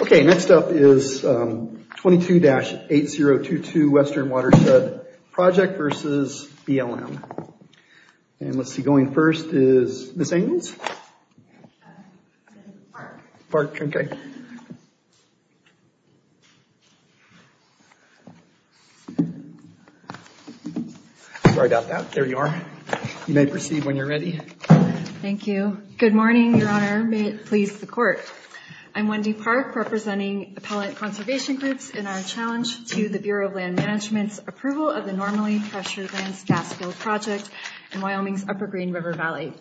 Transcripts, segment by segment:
Okay next up is 22-8022 Western Watershed Project v. BLM. And let's see going first is Ms. Angels. Park. Park, okay. Sorry about that. There you are. You may proceed when you're ready. Thank you. Good morning. I'm Wendy Park representing Appellant Conservation Groups in our challenge to the Bureau of Land Management's approval of the Normally Pressured Lands Gas Field Project in Wyoming's Upper Green River Valley.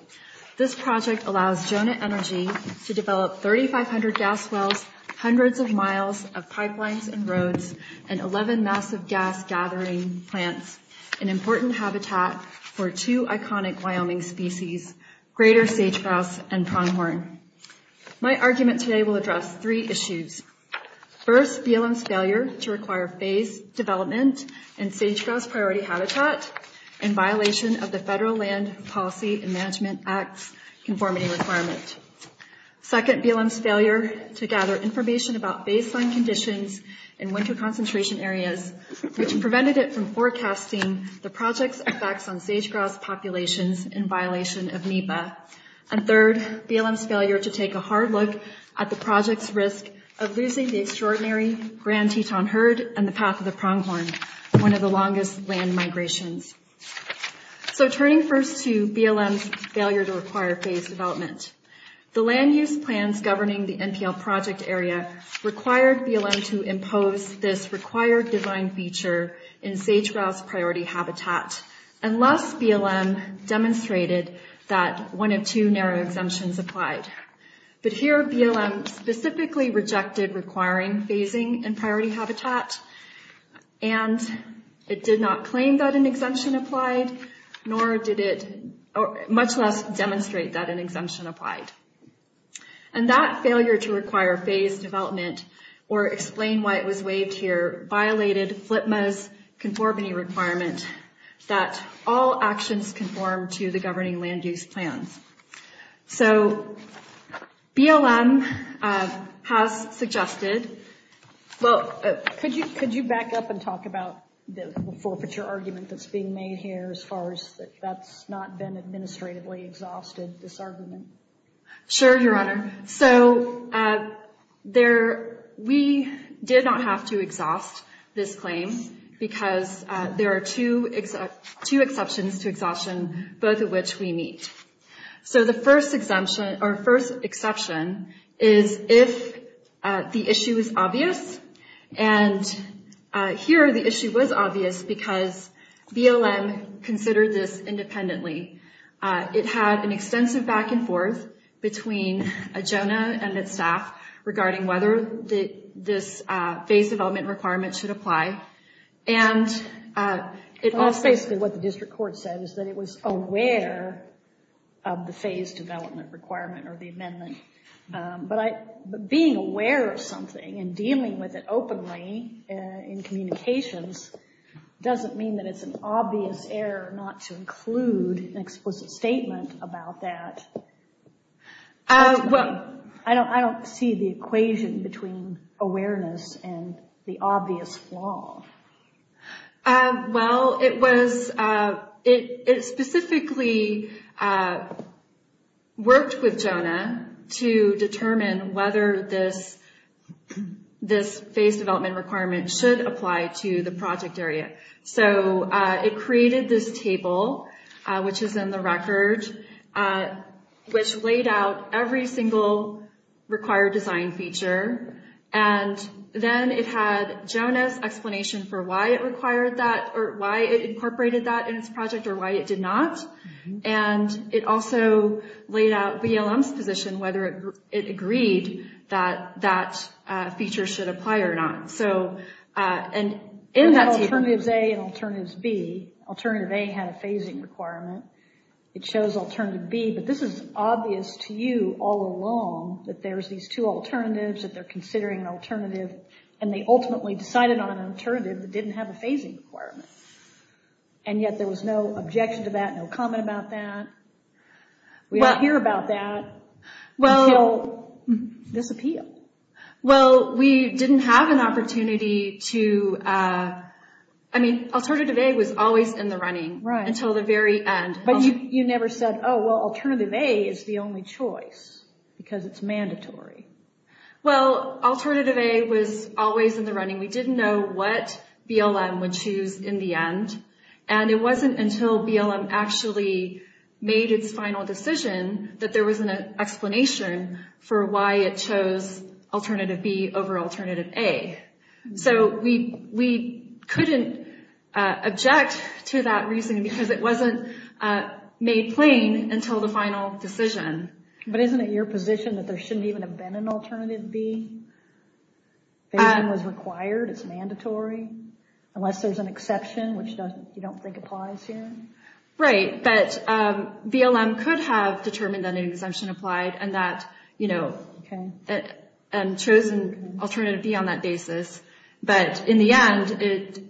This project allows Jonah Energy to develop 3,500 gas wells, hundreds of miles of pipelines and roads, and 11 massive gas-gathering plants, an important habitat for two iconic Wyoming species, greater sage-grouse and pronghorn. My argument today will address three issues. First, BLM's failure to require phased development in sage-grouse priority habitat in violation of the Federal Land Policy and Management Act's conformity requirement. Second, BLM's failure to gather information about baseline conditions in winter concentration areas, which prevented it from forecasting the project's effects on BLM's failure to take a hard look at the project's risk of losing the extraordinary Grand Teton Herd and the Path of the Pronghorn, one of the longest land migrations. So turning first to BLM's failure to require phased development, the land use plans governing the NPL project area required BLM to impose this required design feature in sage-grouse priority habitat, unless BLM demonstrated that one of two narrow exemptions applied. But here BLM specifically rejected requiring phasing in priority habitat, and it did not claim that an exemption applied, nor did it much less demonstrate that an exemption applied. And that failure to require phased development, or explain why it was waived here, violated FLPMA's conformity requirement that all actions conform to the governing land use plans. So BLM has suggested, well could you could you back up and talk about the forfeiture argument that's being made here as far as that's not been administratively exhausted, this argument? Sure, your honor. So we did not have to exhaust this claim because there are two exceptions to exhaustion, both of which we meet. So the first exception is if the issue is obvious, and here the issue was obvious because BLM considered this independently. It had an between a Jonah and its staff regarding whether this phase development requirement should apply. And it was basically what the district court said, is that it was aware of the phase development requirement or the amendment. But being aware of something and dealing with it openly in communications doesn't mean that it's an obvious error not to include an explicit statement about that. I don't see the equation between awareness and the obvious flaw. Well it was, it specifically worked with Jonah to determine whether this this phase development requirement should apply to the project area. So it created this table which is in the record which laid out every single required design feature. And then it had Jonah's explanation for why it required that or why it incorporated that in its project or why it did not. And it also laid out BLM's position whether it agreed that that feature should apply or not. So in alternatives A and alternatives B, alternative A had a phasing requirement. It shows alternative B. But this is obvious to you all along that there's these two alternatives that they're considering an alternative and they ultimately decided on an alternative that didn't have a phasing requirement. And yet there was no objection to that, no comment about that. We don't hear about that until this appeal. Well we didn't have an opportunity to, I mean alternative A was always in the running until the very end. But you never said, oh well alternative A is the only choice because it's mandatory. Well alternative A was always in the running. We didn't know what BLM would choose in the end and it wasn't until BLM actually made its final decision that there was an explanation for why it chose alternative B over alternative A. So we couldn't object to that reason because it wasn't made plain until the final decision. But isn't it your position that there shouldn't even have been an alternative B? Phasing was required, it's mandatory, unless there's an exception which you don't think applies here? Right, but BLM could have determined that an exemption applied and that you know and chosen alternative B on that basis. But in the end it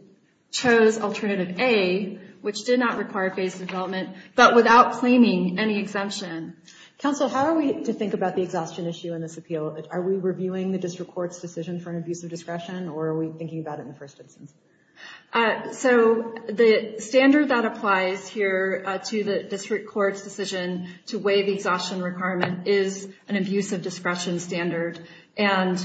chose alternative A which did not require phased development but without claiming any exemption. Counsel, how are we to think about the exhaustion issue in this appeal? Are we reviewing the district court's for an abuse of discretion or are we thinking about it in the first instance? So the standard that applies here to the district court's decision to weigh the exhaustion requirement is an abuse of discretion standard. And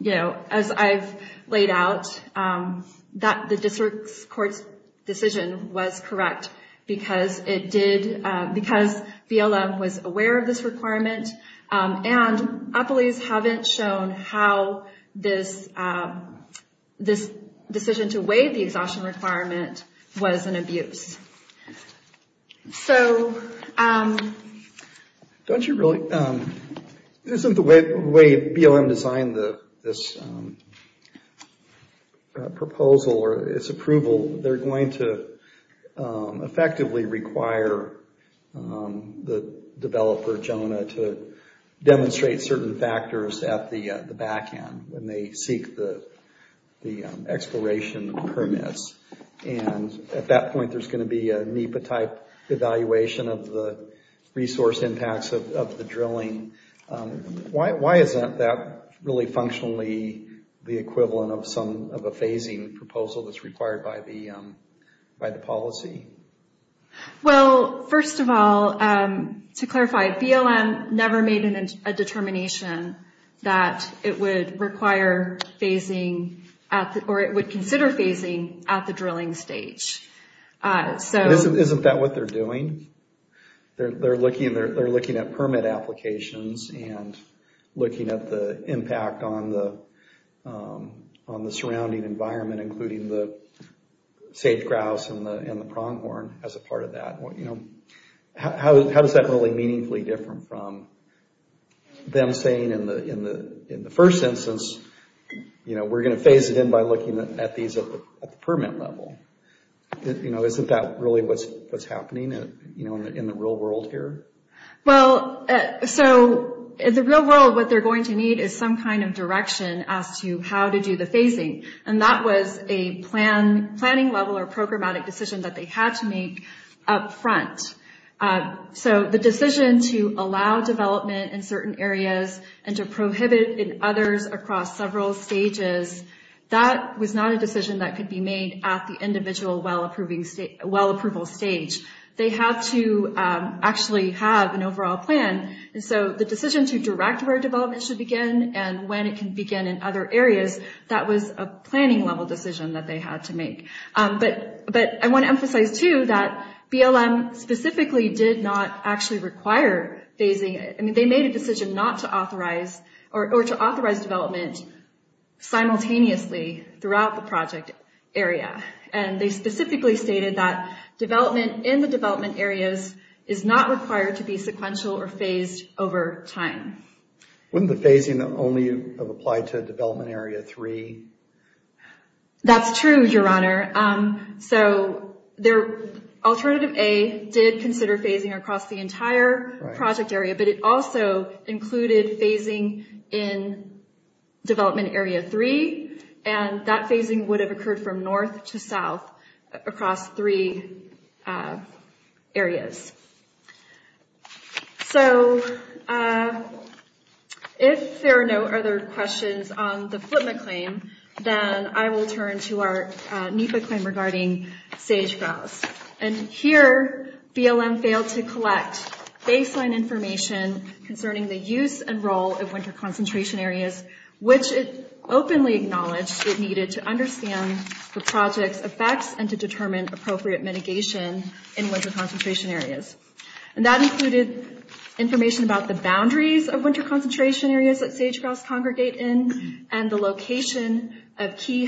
you know as I've laid out that the district court's decision was correct because it did, because BLM was aware of this requirement and appellees haven't shown how this decision to weigh the exhaustion requirement was an abuse. So don't you really, isn't the way BLM designed this proposal or its approval, they're going to effectively require the developer, Jonah, to demonstrate certain factors at the back end when they seek the exploration permits. And at that point there's going to be a NEPA type evaluation of the resource impacts of the drilling. Why isn't that really functionally the equivalent of a phasing proposal that's required by the policy? Well first of all, to clarify, BLM never made a determination that it would require phasing at the, or it would consider phasing at the drilling stage. Isn't that what they're doing? They're looking at permit applications and looking at the impact on the surrounding environment, including the sage grouse and the pronghorn as a part of that. How does that really meaningfully differ from them saying in the first instance, you know, we're going to phase it in by looking at these at the permit level. You know, isn't that really what's happening in the real world here? Well, so in the real world what they're going to need is some kind of direction as to how to do the phasing. And that was a planning level or programmatic decision that they had to make up front. So the decision to allow development in certain areas and to prohibit in others across several stages, that was not a decision that could be made at the individual well approval stage. They have to actually have an overall plan. And so the decision to direct where development should begin and when it can begin in other areas, that was a planning level decision that they had to make. But I want to emphasize too that BLM specifically did not actually require phasing. They made a decision not to authorize or to authorize development simultaneously throughout the project area. And they specifically stated that development in the development areas is not required to be sequential or phased over time. Wouldn't the phasing only have applied to development area three? That's true, your honor. So alternative A did consider phasing across the entire project area, but it also included phasing in development area three. And that phasing would have occurred from north to south across three areas. So if there are no other questions on the baseline information concerning the use and role of winter concentration areas, which it openly acknowledged it needed to understand the project's effects and to determine appropriate mitigation in winter concentration areas. And that included information about the boundaries of winter concentration areas that sage-grouse congregate in and the location of key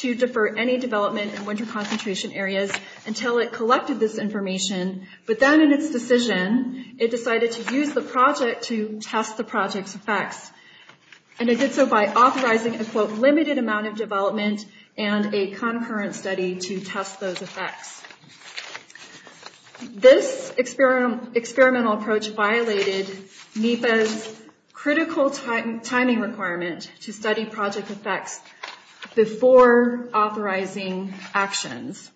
to defer any development in winter concentration areas until it collected this information. But then in its decision, it decided to use the project to test the project's effects. And it did so by authorizing a quote, limited amount of development and a concurrent study to test those effects. This experimental approach violated NEPA's critical timing requirement to study project effects before authorizing actions.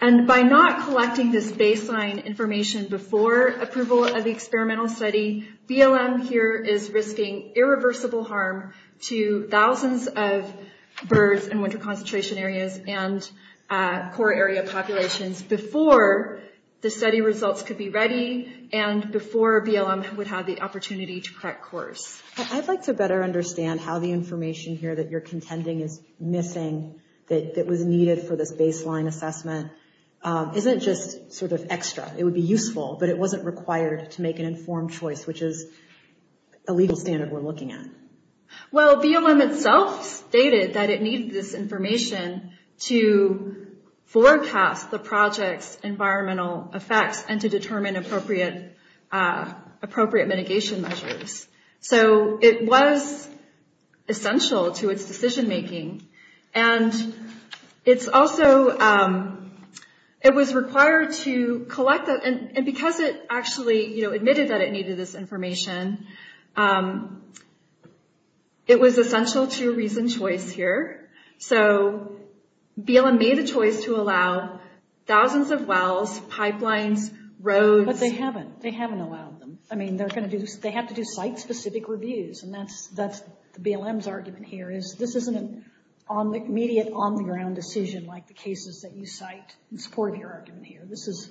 And by not collecting this baseline information before approval of the experimental study, BLM here is risking irreversible harm to thousands of birds in winter concentration areas and core area populations before the study results could be ready and before BLM would have the opportunity to correct course. I'd like to better understand how the information here that you're contending is missing, that was needed for this baseline assessment, isn't just sort of extra. It would be useful, but it wasn't required to make an informed choice, which is a legal standard we're looking at. Well, BLM itself stated that it needed this information to forecast the project's environmental effects and to determine appropriate mitigation measures. So it was essential to its decision making. And it's also, it was required to collect that, and because it actually admitted that it needed this information, it was essential to reason choice here. So BLM made a choice to allow thousands of wells, pipelines, roads. But they haven't. They haven't allowed them. I mean, they're going to do, they have to do site-specific reviews, and that's the BLM's argument here, is this isn't an immediate, on-the-ground decision like the cases that you cite in support of your argument here. This is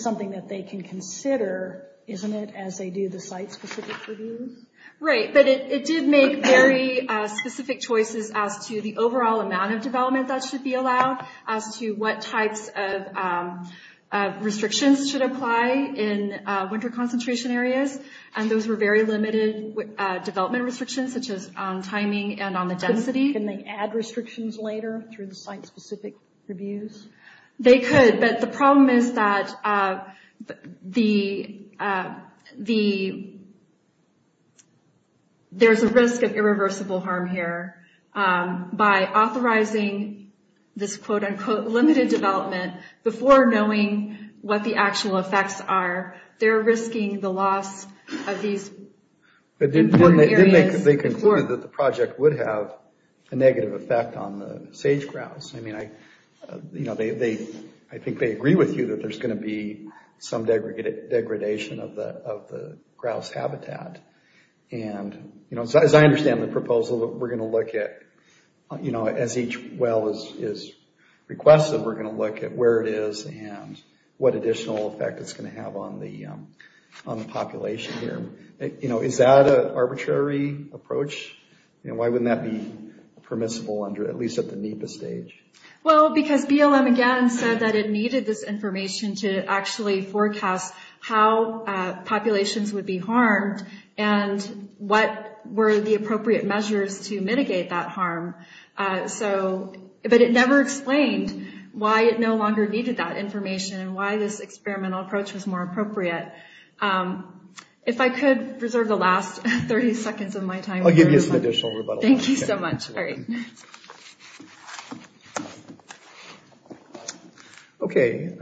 something that they can consider, isn't it, as they do the site-specific reviews? Right, but it did make very specific choices as to the overall amount of development that should be allowed, as to what types of in winter concentration areas, and those were very limited development restrictions, such as on timing and on the density. Can they add restrictions later through the site-specific reviews? They could, but the problem is that there's a risk of irreversible harm here by authorizing this quote-unquote limited development before knowing what the actual effects are. They're risking the loss of these important areas. They concluded that the project would have a negative effect on the sage grouse. I mean, I think they agree with you that there's going to be some degradation of the grouse habitat, and you know, as I look at, you know, as each well is requested, we're going to look at where it is and what additional effect it's going to have on the population here. You know, is that an arbitrary approach? You know, why wouldn't that be permissible under, at least at the NEPA stage? Well, because BLM again said that it needed this information to actually forecast how populations would be harmed and what were the appropriate measures to mitigate that harm. So, but it never explained why it no longer needed that information and why this experimental approach was more appropriate. If I could reserve the last 30 seconds of my time. I'll give you some additional rebuttals. Thank you so much. All right. Okay.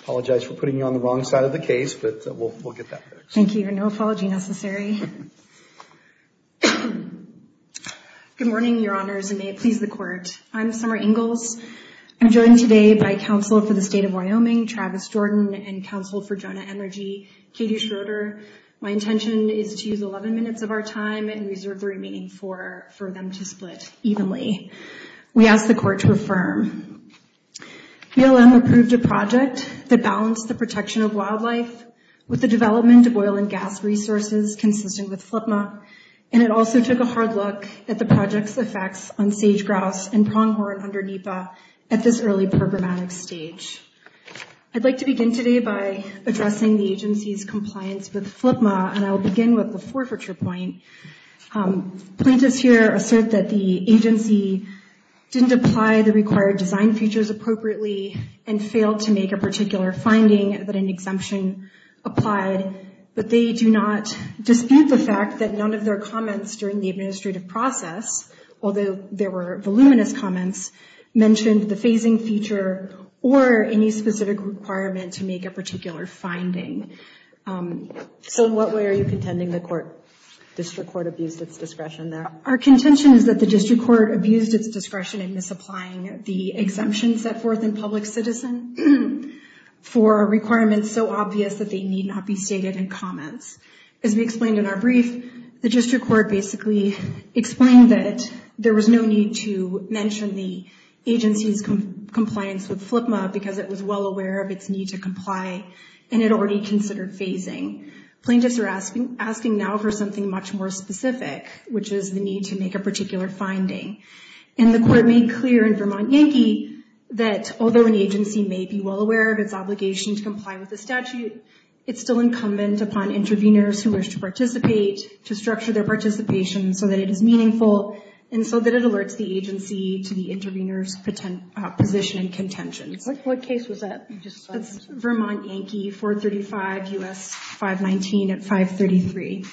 Apologize for putting you on the wrong side of the case, but we'll get that. Thank you. No apology necessary. Good morning, your honors, and may it please the court. I'm Summer Ingalls. I'm joined today by counsel for the state of Wyoming, Travis Jordan, and counsel for Jonah Energy, Katie Schroeder. My intention is to use 11 minutes of our time and reserve the remaining four for them to split evenly. We ask the court to affirm. BLM approved a project that balanced the protection of wildlife with the development of oil and gas resources consistent with FLIPMA, and it also took a hard at the project's effects on sage-grouse and pronghorn under NEPA at this early programmatic stage. I'd like to begin today by addressing the agency's compliance with FLIPMA, and I'll begin with the forfeiture point. Plaintiffs here assert that the agency didn't apply the required design features appropriately and failed to make a particular finding that an exemption applied, but they do not dispute the fact that none of their comments during the administrative process, although there were voluminous comments, mentioned the phasing feature or any specific requirement to make a particular finding. So what way are you contending the court, district court, abused its discretion there? Our contention is that the district court abused its discretion in misapplying the exemption set forth in Public Citizen for requirements so obvious that they need not be stated in comments. As we explained in our brief, the district court basically explained that there was no need to mention the agency's compliance with FLIPMA because it was well aware of its need to comply, and it already considered phasing. Plaintiffs are asking now for something much more specific, which is the need to make a particular finding, and the court made clear in Vermont Yankee that although an agency may be well aware of its obligation to comply with the statute, it's still incumbent upon interveners who wish to participate to structure their participation so that it is meaningful and so that it alerts the agency to the intervener's position and contention. What case was that? It's Vermont Yankee 435 U.S. 519 at 533.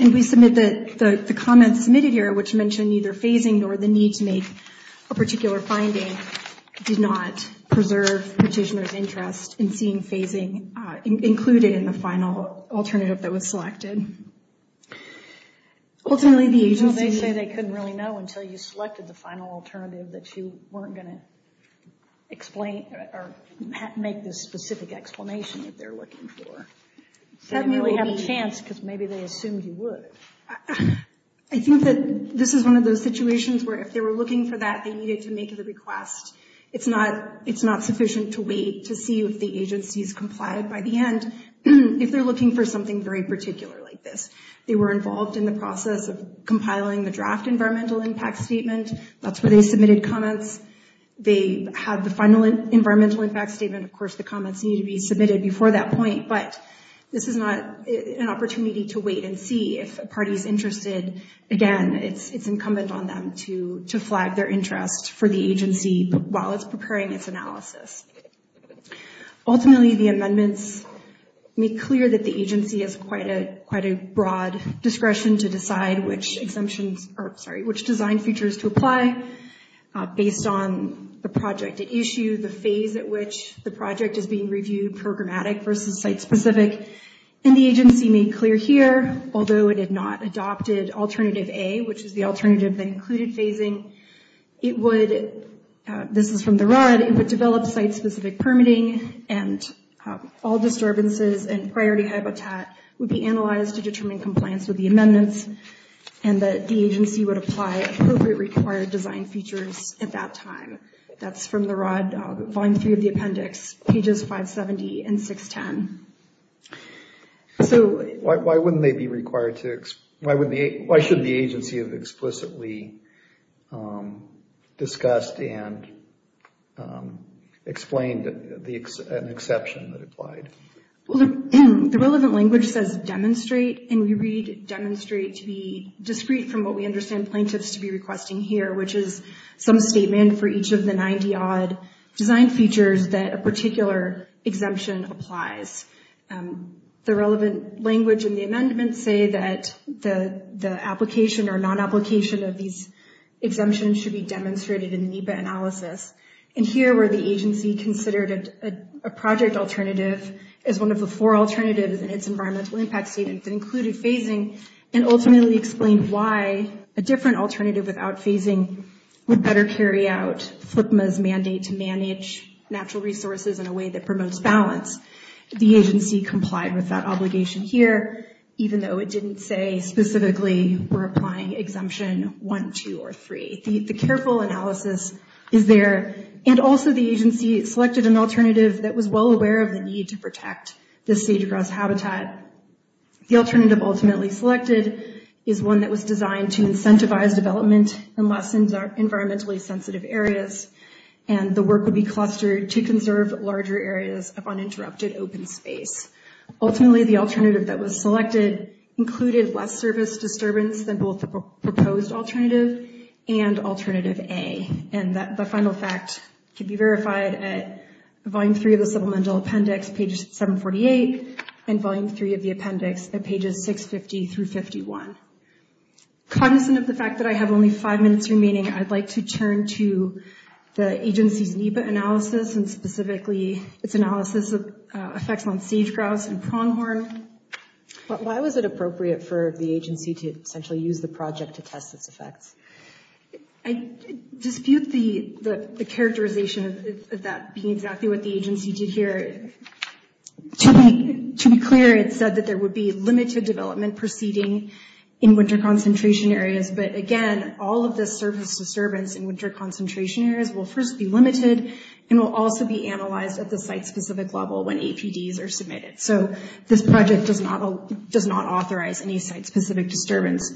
And we submit that the comments submitted here, which mentioned neither phasing nor the need to make a particular finding, did not preserve petitioner's interest in seeing phasing included in the final alternative that was selected. Ultimately, the agency... Well, they say they couldn't really know until you selected the final alternative that you weren't going to explain or make this specific explanation that they're looking for. They didn't really have a chance because maybe they assumed you would. I think that this is one of those situations where if they were looking for that, they needed to make the request. It's not sufficient to wait to see if the agency's complied by the end if they're looking for something very particular like this. They were involved in the process of compiling the draft environmental impact statement. That's where they submitted comments. They have the final environmental impact statement. Of course, the comments need to be submitted. If the party's interested, again, it's incumbent on them to flag their interest for the agency while it's preparing its analysis. Ultimately, the amendments make clear that the agency has quite a broad discretion to decide which design features to apply based on the project at issue, the phase at which the project is being reviewed, programmatic versus site-specific. The agency made clear here, although it had not adopted alternative A, which is the alternative that included phasing, this is from the ROD, it would develop site-specific permitting and all disturbances and priority habitat would be analyzed to determine compliance with the amendments and that the agency would apply appropriate required design features at that time. That's from the ROD, volume three of the appendix, pages 570 and 610. So why shouldn't the agency have explicitly discussed and explained an exception that applied? Well, the relevant language says demonstrate, and we read demonstrate to be discrete from what we understand plaintiffs to be requesting here, which is some statement for each of the 90-odd design features that a particular exemption applies. The relevant language in the amendment say that the application or non-application of these exemptions should be demonstrated in NEPA analysis, and here where the agency considered a project alternative as one of the four alternatives in its environmental impact statement that included phasing and ultimately explained why a different alternative without phasing would better carry out FLIPMA's mandate to manage natural resources in a way that promotes balance. The agency complied with that obligation here, even though it didn't say specifically we're applying exemption one, two, or three. The careful analysis is there, and also the agency selected an alternative that was well aware of the need to protect the sage-grass habitat. The alternative ultimately selected is one that was designed to incentivize development in less environmentally sensitive areas, and the work would be clustered to conserve larger areas of uninterrupted open space. Ultimately, the alternative that was selected included less service disturbance than both the proposed alternative and alternative A, and the final fact can be verified at volume three of the supplemental appendix, pages 748, and volume three of the appendix at pages 650 through 51. Cognizant of the fact that I have only five minutes remaining, I'd like to turn to the agency's NEPA analysis and specifically its analysis of effects on sage-grass and pronghorn. Why was it appropriate for the agency to essentially use the project to test its characterization of that being exactly what the agency did here? To be clear, it said that there would be limited development proceeding in winter concentration areas, but again, all of this surface disturbance in winter concentration areas will first be limited, and will also be analyzed at the site-specific level when APDs are submitted. So this project does not authorize any site-specific disturbance,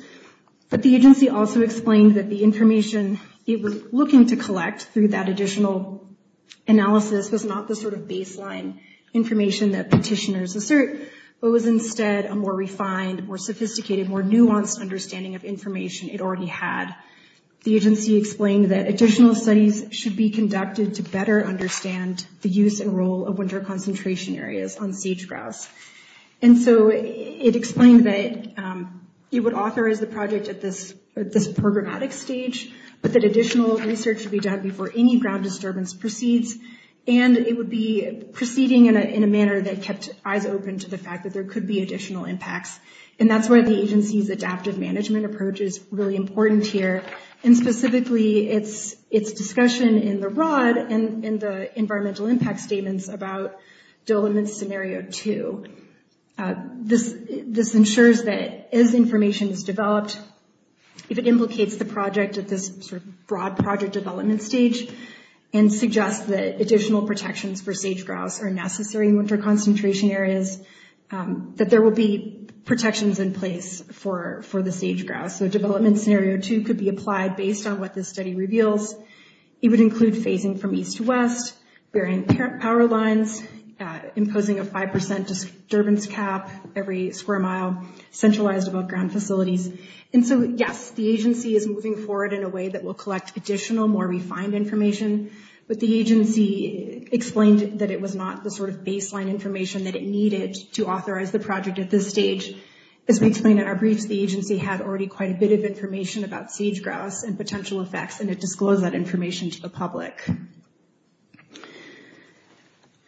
but the agency also explained that the information it was looking to provide in that additional analysis was not the sort of baseline information that petitioners assert, but was instead a more refined, more sophisticated, more nuanced understanding of information it already had. The agency explained that additional studies should be conducted to better understand the use and role of winter concentration areas on sage-grass, and so it explained that it would authorize the project at this programmatic stage, but that additional research should be done before any ground disturbance proceeds, and it would be proceeding in a manner that kept eyes open to the fact that there could be additional impacts. And that's why the agency's adaptive management approach is really important here, and specifically its discussion in the ROD and in the environmental impact statements about Diliman's Scenario 2. This ensures that as information is developed, if it implicates the project at this sort of broad project development stage, and suggests that additional protections for sage-grass are necessary in winter concentration areas, that there will be protections in place for the sage-grass. So Development Scenario 2 could be applied based on what this study reveals. It would include phasing from east to west, bearing power lines, imposing a five percent disturbance cap every square mile, centralized about ground facilities. And so yes, the agency is moving forward in a way that will collect additional, more refined information, but the agency explained that it was not the sort of baseline information that it needed to authorize the project at this stage. As we explain in our briefs, the agency had already quite a bit of information about sage-grass and potential effects, and it disclosed that information to the public.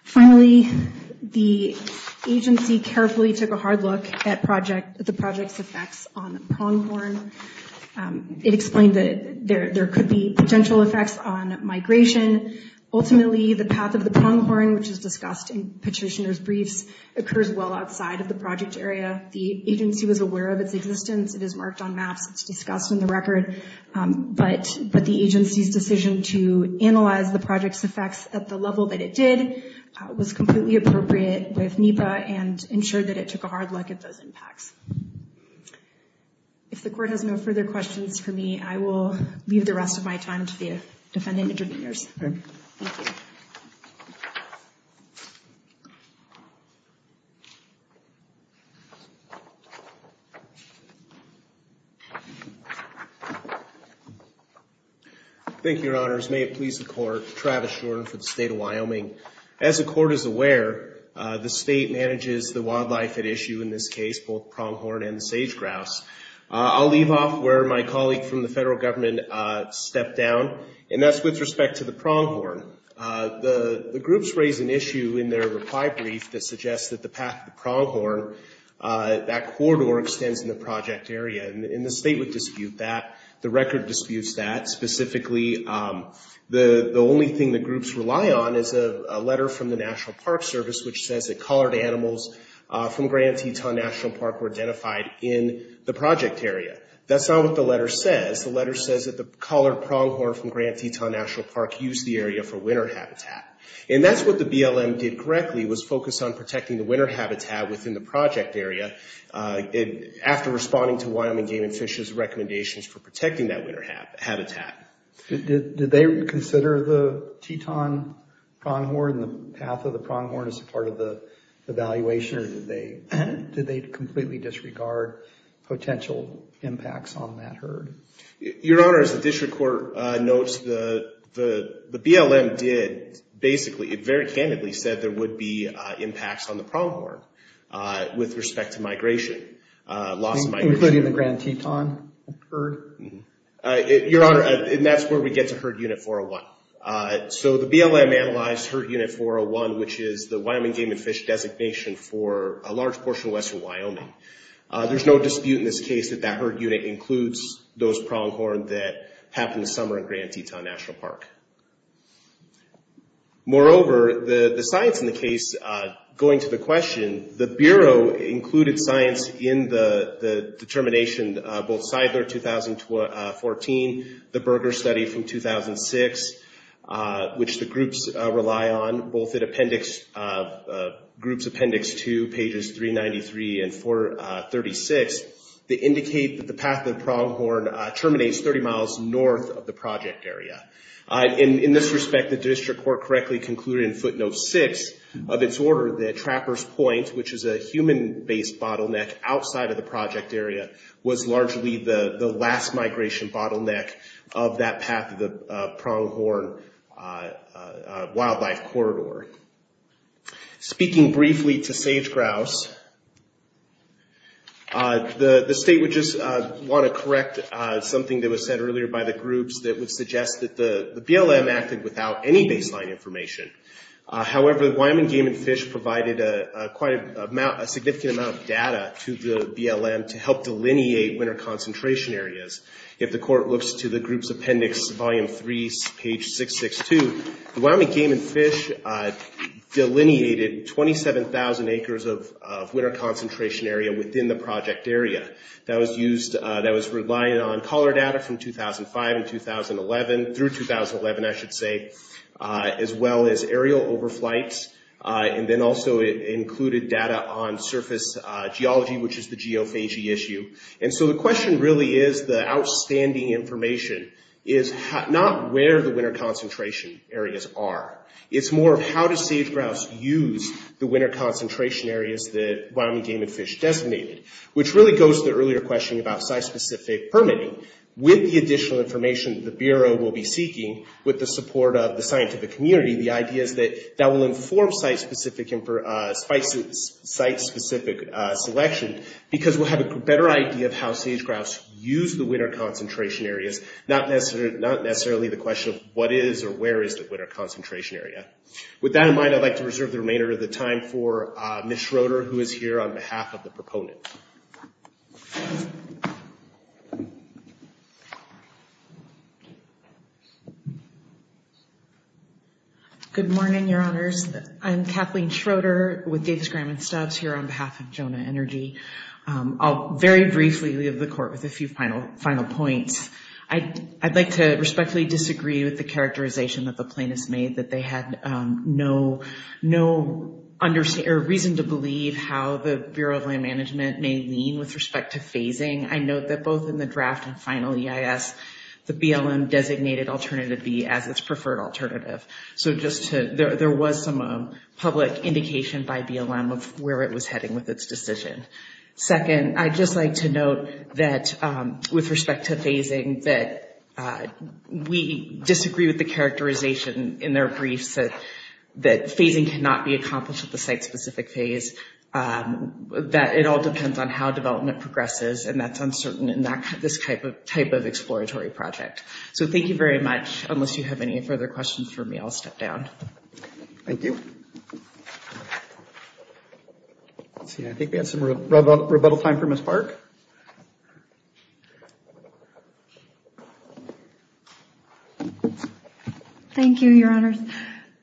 Finally, the agency carefully took a hard look at the project's effects on pronghorn. It explained that there could be potential effects on migration. Ultimately, the path of the pronghorn, which is discussed in petitioner's briefs, occurs well outside of the project area. The agency was aware of its existence. It is marked on maps. It's discussed in the record, but the agency's decision to analyze the project's effects at the level that it did was completely appropriate with NEPA and ensured that it took a hard look at those impacts. If the court has no further questions for me, I will leave the rest of my time to the defendant interveners. Thank you, your honors. May it please the court. Travis Jordan for the state of Wyoming. As the court is aware, the state manages the wildlife at issue in this case, both pronghorn and sage-grass. I'll leave off where my colleague from the federal government stepped down, and that's with respect to the pronghorn. The groups raised an issue in their reply brief that suggests that the path of the pronghorn, that corridor extends in the project area, and the state would dispute that. The record disputes that. Specifically, the only thing the groups rely on is a letter from the National Park Service which says that collared animals from Grand Teton National Park were identified in the project area. That's not what the letter says. The letter says that the collared pronghorn from Grand Teton National Park used the area for winter habitat, and that's what the BLM did correctly, was focus on protecting winter habitat within the project area after responding to Wyoming Game and Fish's recommendations for protecting that winter habitat. Did they consider the Teton pronghorn and the path of the pronghorn as part of the evaluation, or did they completely disregard potential impacts on that herd? Your honors, the district court notes the BLM did, basically, very candidly said there was a significant loss of pronghorn with respect to migration. Including the Grand Teton herd? Your honor, and that's where we get to herd unit 401. So the BLM analyzed herd unit 401, which is the Wyoming Game and Fish designation for a large portion of western Wyoming. There's no dispute in this case that that herd unit includes those pronghorn that happened in summer in Grand Teton National Park. Moreover, the science in the case, going to the question, the Bureau included science in the determination, both Seidler 2014, the Berger study from 2006, which the groups rely on, both at appendix, groups appendix two, pages 393 and 436, that indicate that the path of the pronghorn terminates 30 miles north of the project area. In this respect, the district court correctly concluded in footnote six of its order that Trapper's Point, which is a human-based bottleneck outside of the project area, was largely the last migration bottleneck of that path of the pronghorn wildlife corridor. Speaking briefly to Sage Grouse, the state would just want to correct something that was said earlier by the groups that would suggest that the BLM acted without any baseline information. However, the Wyoming Game and Fish provided a significant amount of data to the BLM to help delineate winter concentration areas. If the court looks to the group's appendix, volume three, page 662, the Wyoming Game and Fish delineated 27,000 acres of winter concentration area within the project area. That was relied on color data from 2005 through 2011, as well as aerial overflights, and then also it included data on surface geology, which is the geophagy issue. The question really is, the outstanding information is not where the winter concentration areas are. It's more of how does Sage Grouse use the winter concentration areas that Wyoming Game and Fish designated, which really goes to the earlier question about site-specific permitting. With the additional information the Bureau will be seeking, with the support of the scientific community, the idea is that that will inform site-specific selection because we'll have a better idea of how Sage Grouse used the winter concentration areas, not necessarily the question of what is or where is the winter concentration area. With that in mind, I'd like to reserve the remainder of the time for Ms. Schroeder, who is here on behalf of the proponent. Good morning, your honors. I'm Kathleen Schroeder with Davis Graham and Stubbs, here on behalf of Jonah Energy. I'll very briefly leave the court with a few final points. I'd like to respectfully disagree with the characterization that the plaintiffs made, that they had no reason to believe how the Bureau of Land Management may lean with respect to phasing. I note that both in the draft and final EIS, the BLM designated Alternative B as its decision. Second, I'd just like to note that with respect to phasing, that we disagree with the characterization in their briefs that phasing cannot be accomplished at the site-specific phase, that it all depends on how development progresses and that's uncertain in this type of exploratory project. So thank you very much. Unless you have any further questions for me, I'll step down. Thank you. I think we have some rebuttal time for Ms. Park. Thank you, your honors.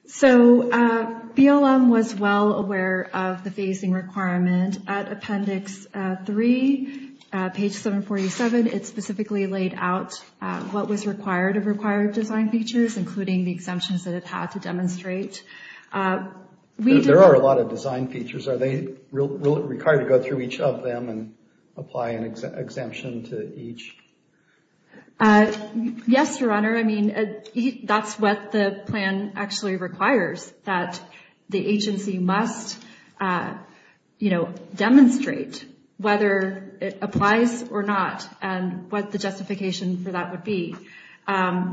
So BLM was well aware of the phasing requirement at Appendix 3, page 747. It specifically laid out what was required of required design features, including the exemptions that it had to demonstrate. There are a lot of design features. Are they required to go through each of them and apply an exemption to each? Yes, your honor. I mean, that's what the plan actually requires, that the agency must demonstrate whether it applies or not and what the justification for that would be.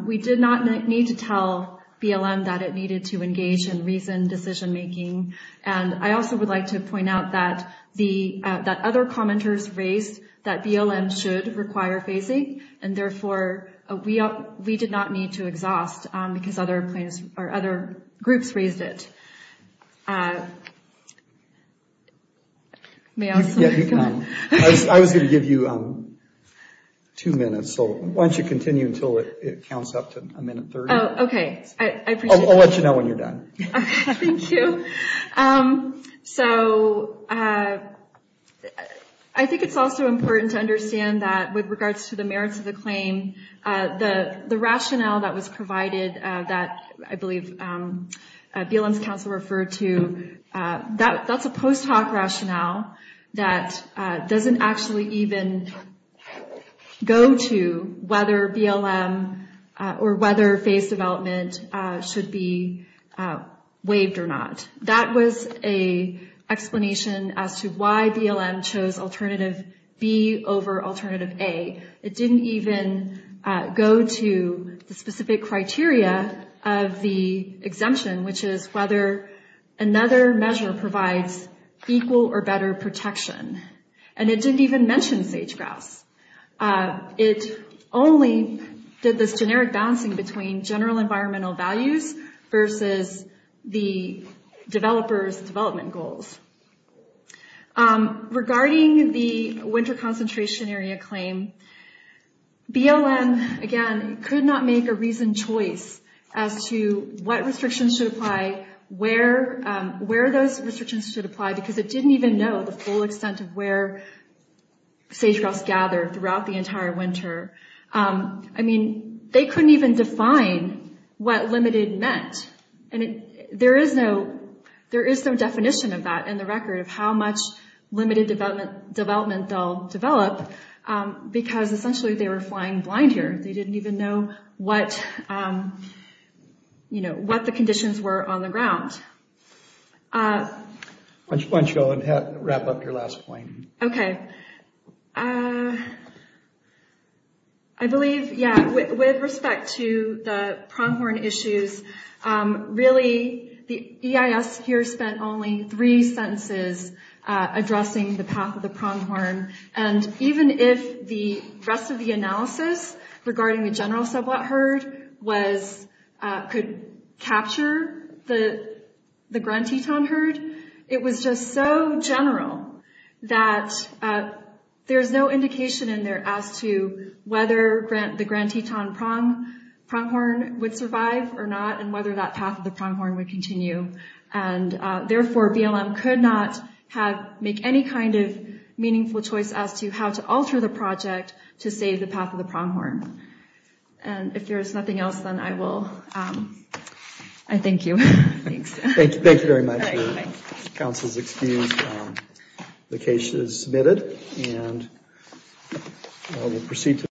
We did not need to tell BLM that it needed to engage in reasoned decision making. And I also would like to point out that other commenters raised that BLM should require phasing and therefore we did not need to exhaust because other groups raised it. I was going to give you two minutes, so why don't you continue until it counts up to a minute 30. Oh, okay. I appreciate that. I'll let you know when you're done. Thank you. So I think it's also important to understand that with regards to the merits of the claim, the rationale that was provided that I believe BLM's counsel referred to, that's a post hoc rationale that doesn't actually even go to whether BLM or whether phase development should be waived or not. That was a explanation as to why BLM chose alternative B over alternative A. It didn't even go to the specific criteria of the exemption, which is whether another measure provides equal or better protection. And it didn't even mention sage-grouse. It only did this generic balancing between general environmental values versus the BLM, again, could not make a reasoned choice as to what restrictions should apply, where those restrictions should apply, because it didn't even know the full extent of where sage-grouse gathered throughout the entire winter. I mean, they couldn't even define what limited meant. And there is no definition of that in the record of how much limited development they'll develop because essentially they were flying blind here. They didn't even know what the conditions were on the ground. I believe, yeah, with respect to the pronghorn issues, really the EIS here spent only three sentences addressing the path of the pronghorn. And even if the rest of the analysis regarding the general sublet herd could capture the Grand Teton herd, it was just so general that there's no indication in there as to whether the Grand Teton pronghorn would survive or not, whether that path of the pronghorn would continue. And therefore, BLM could not have make any kind of meaningful choice as to how to alter the project to save the path of the pronghorn. And if there's nothing else, then I will. I thank you. Thanks. Thank you. Thank you very much. Council is excused. The case is submitted and we'll proceed to the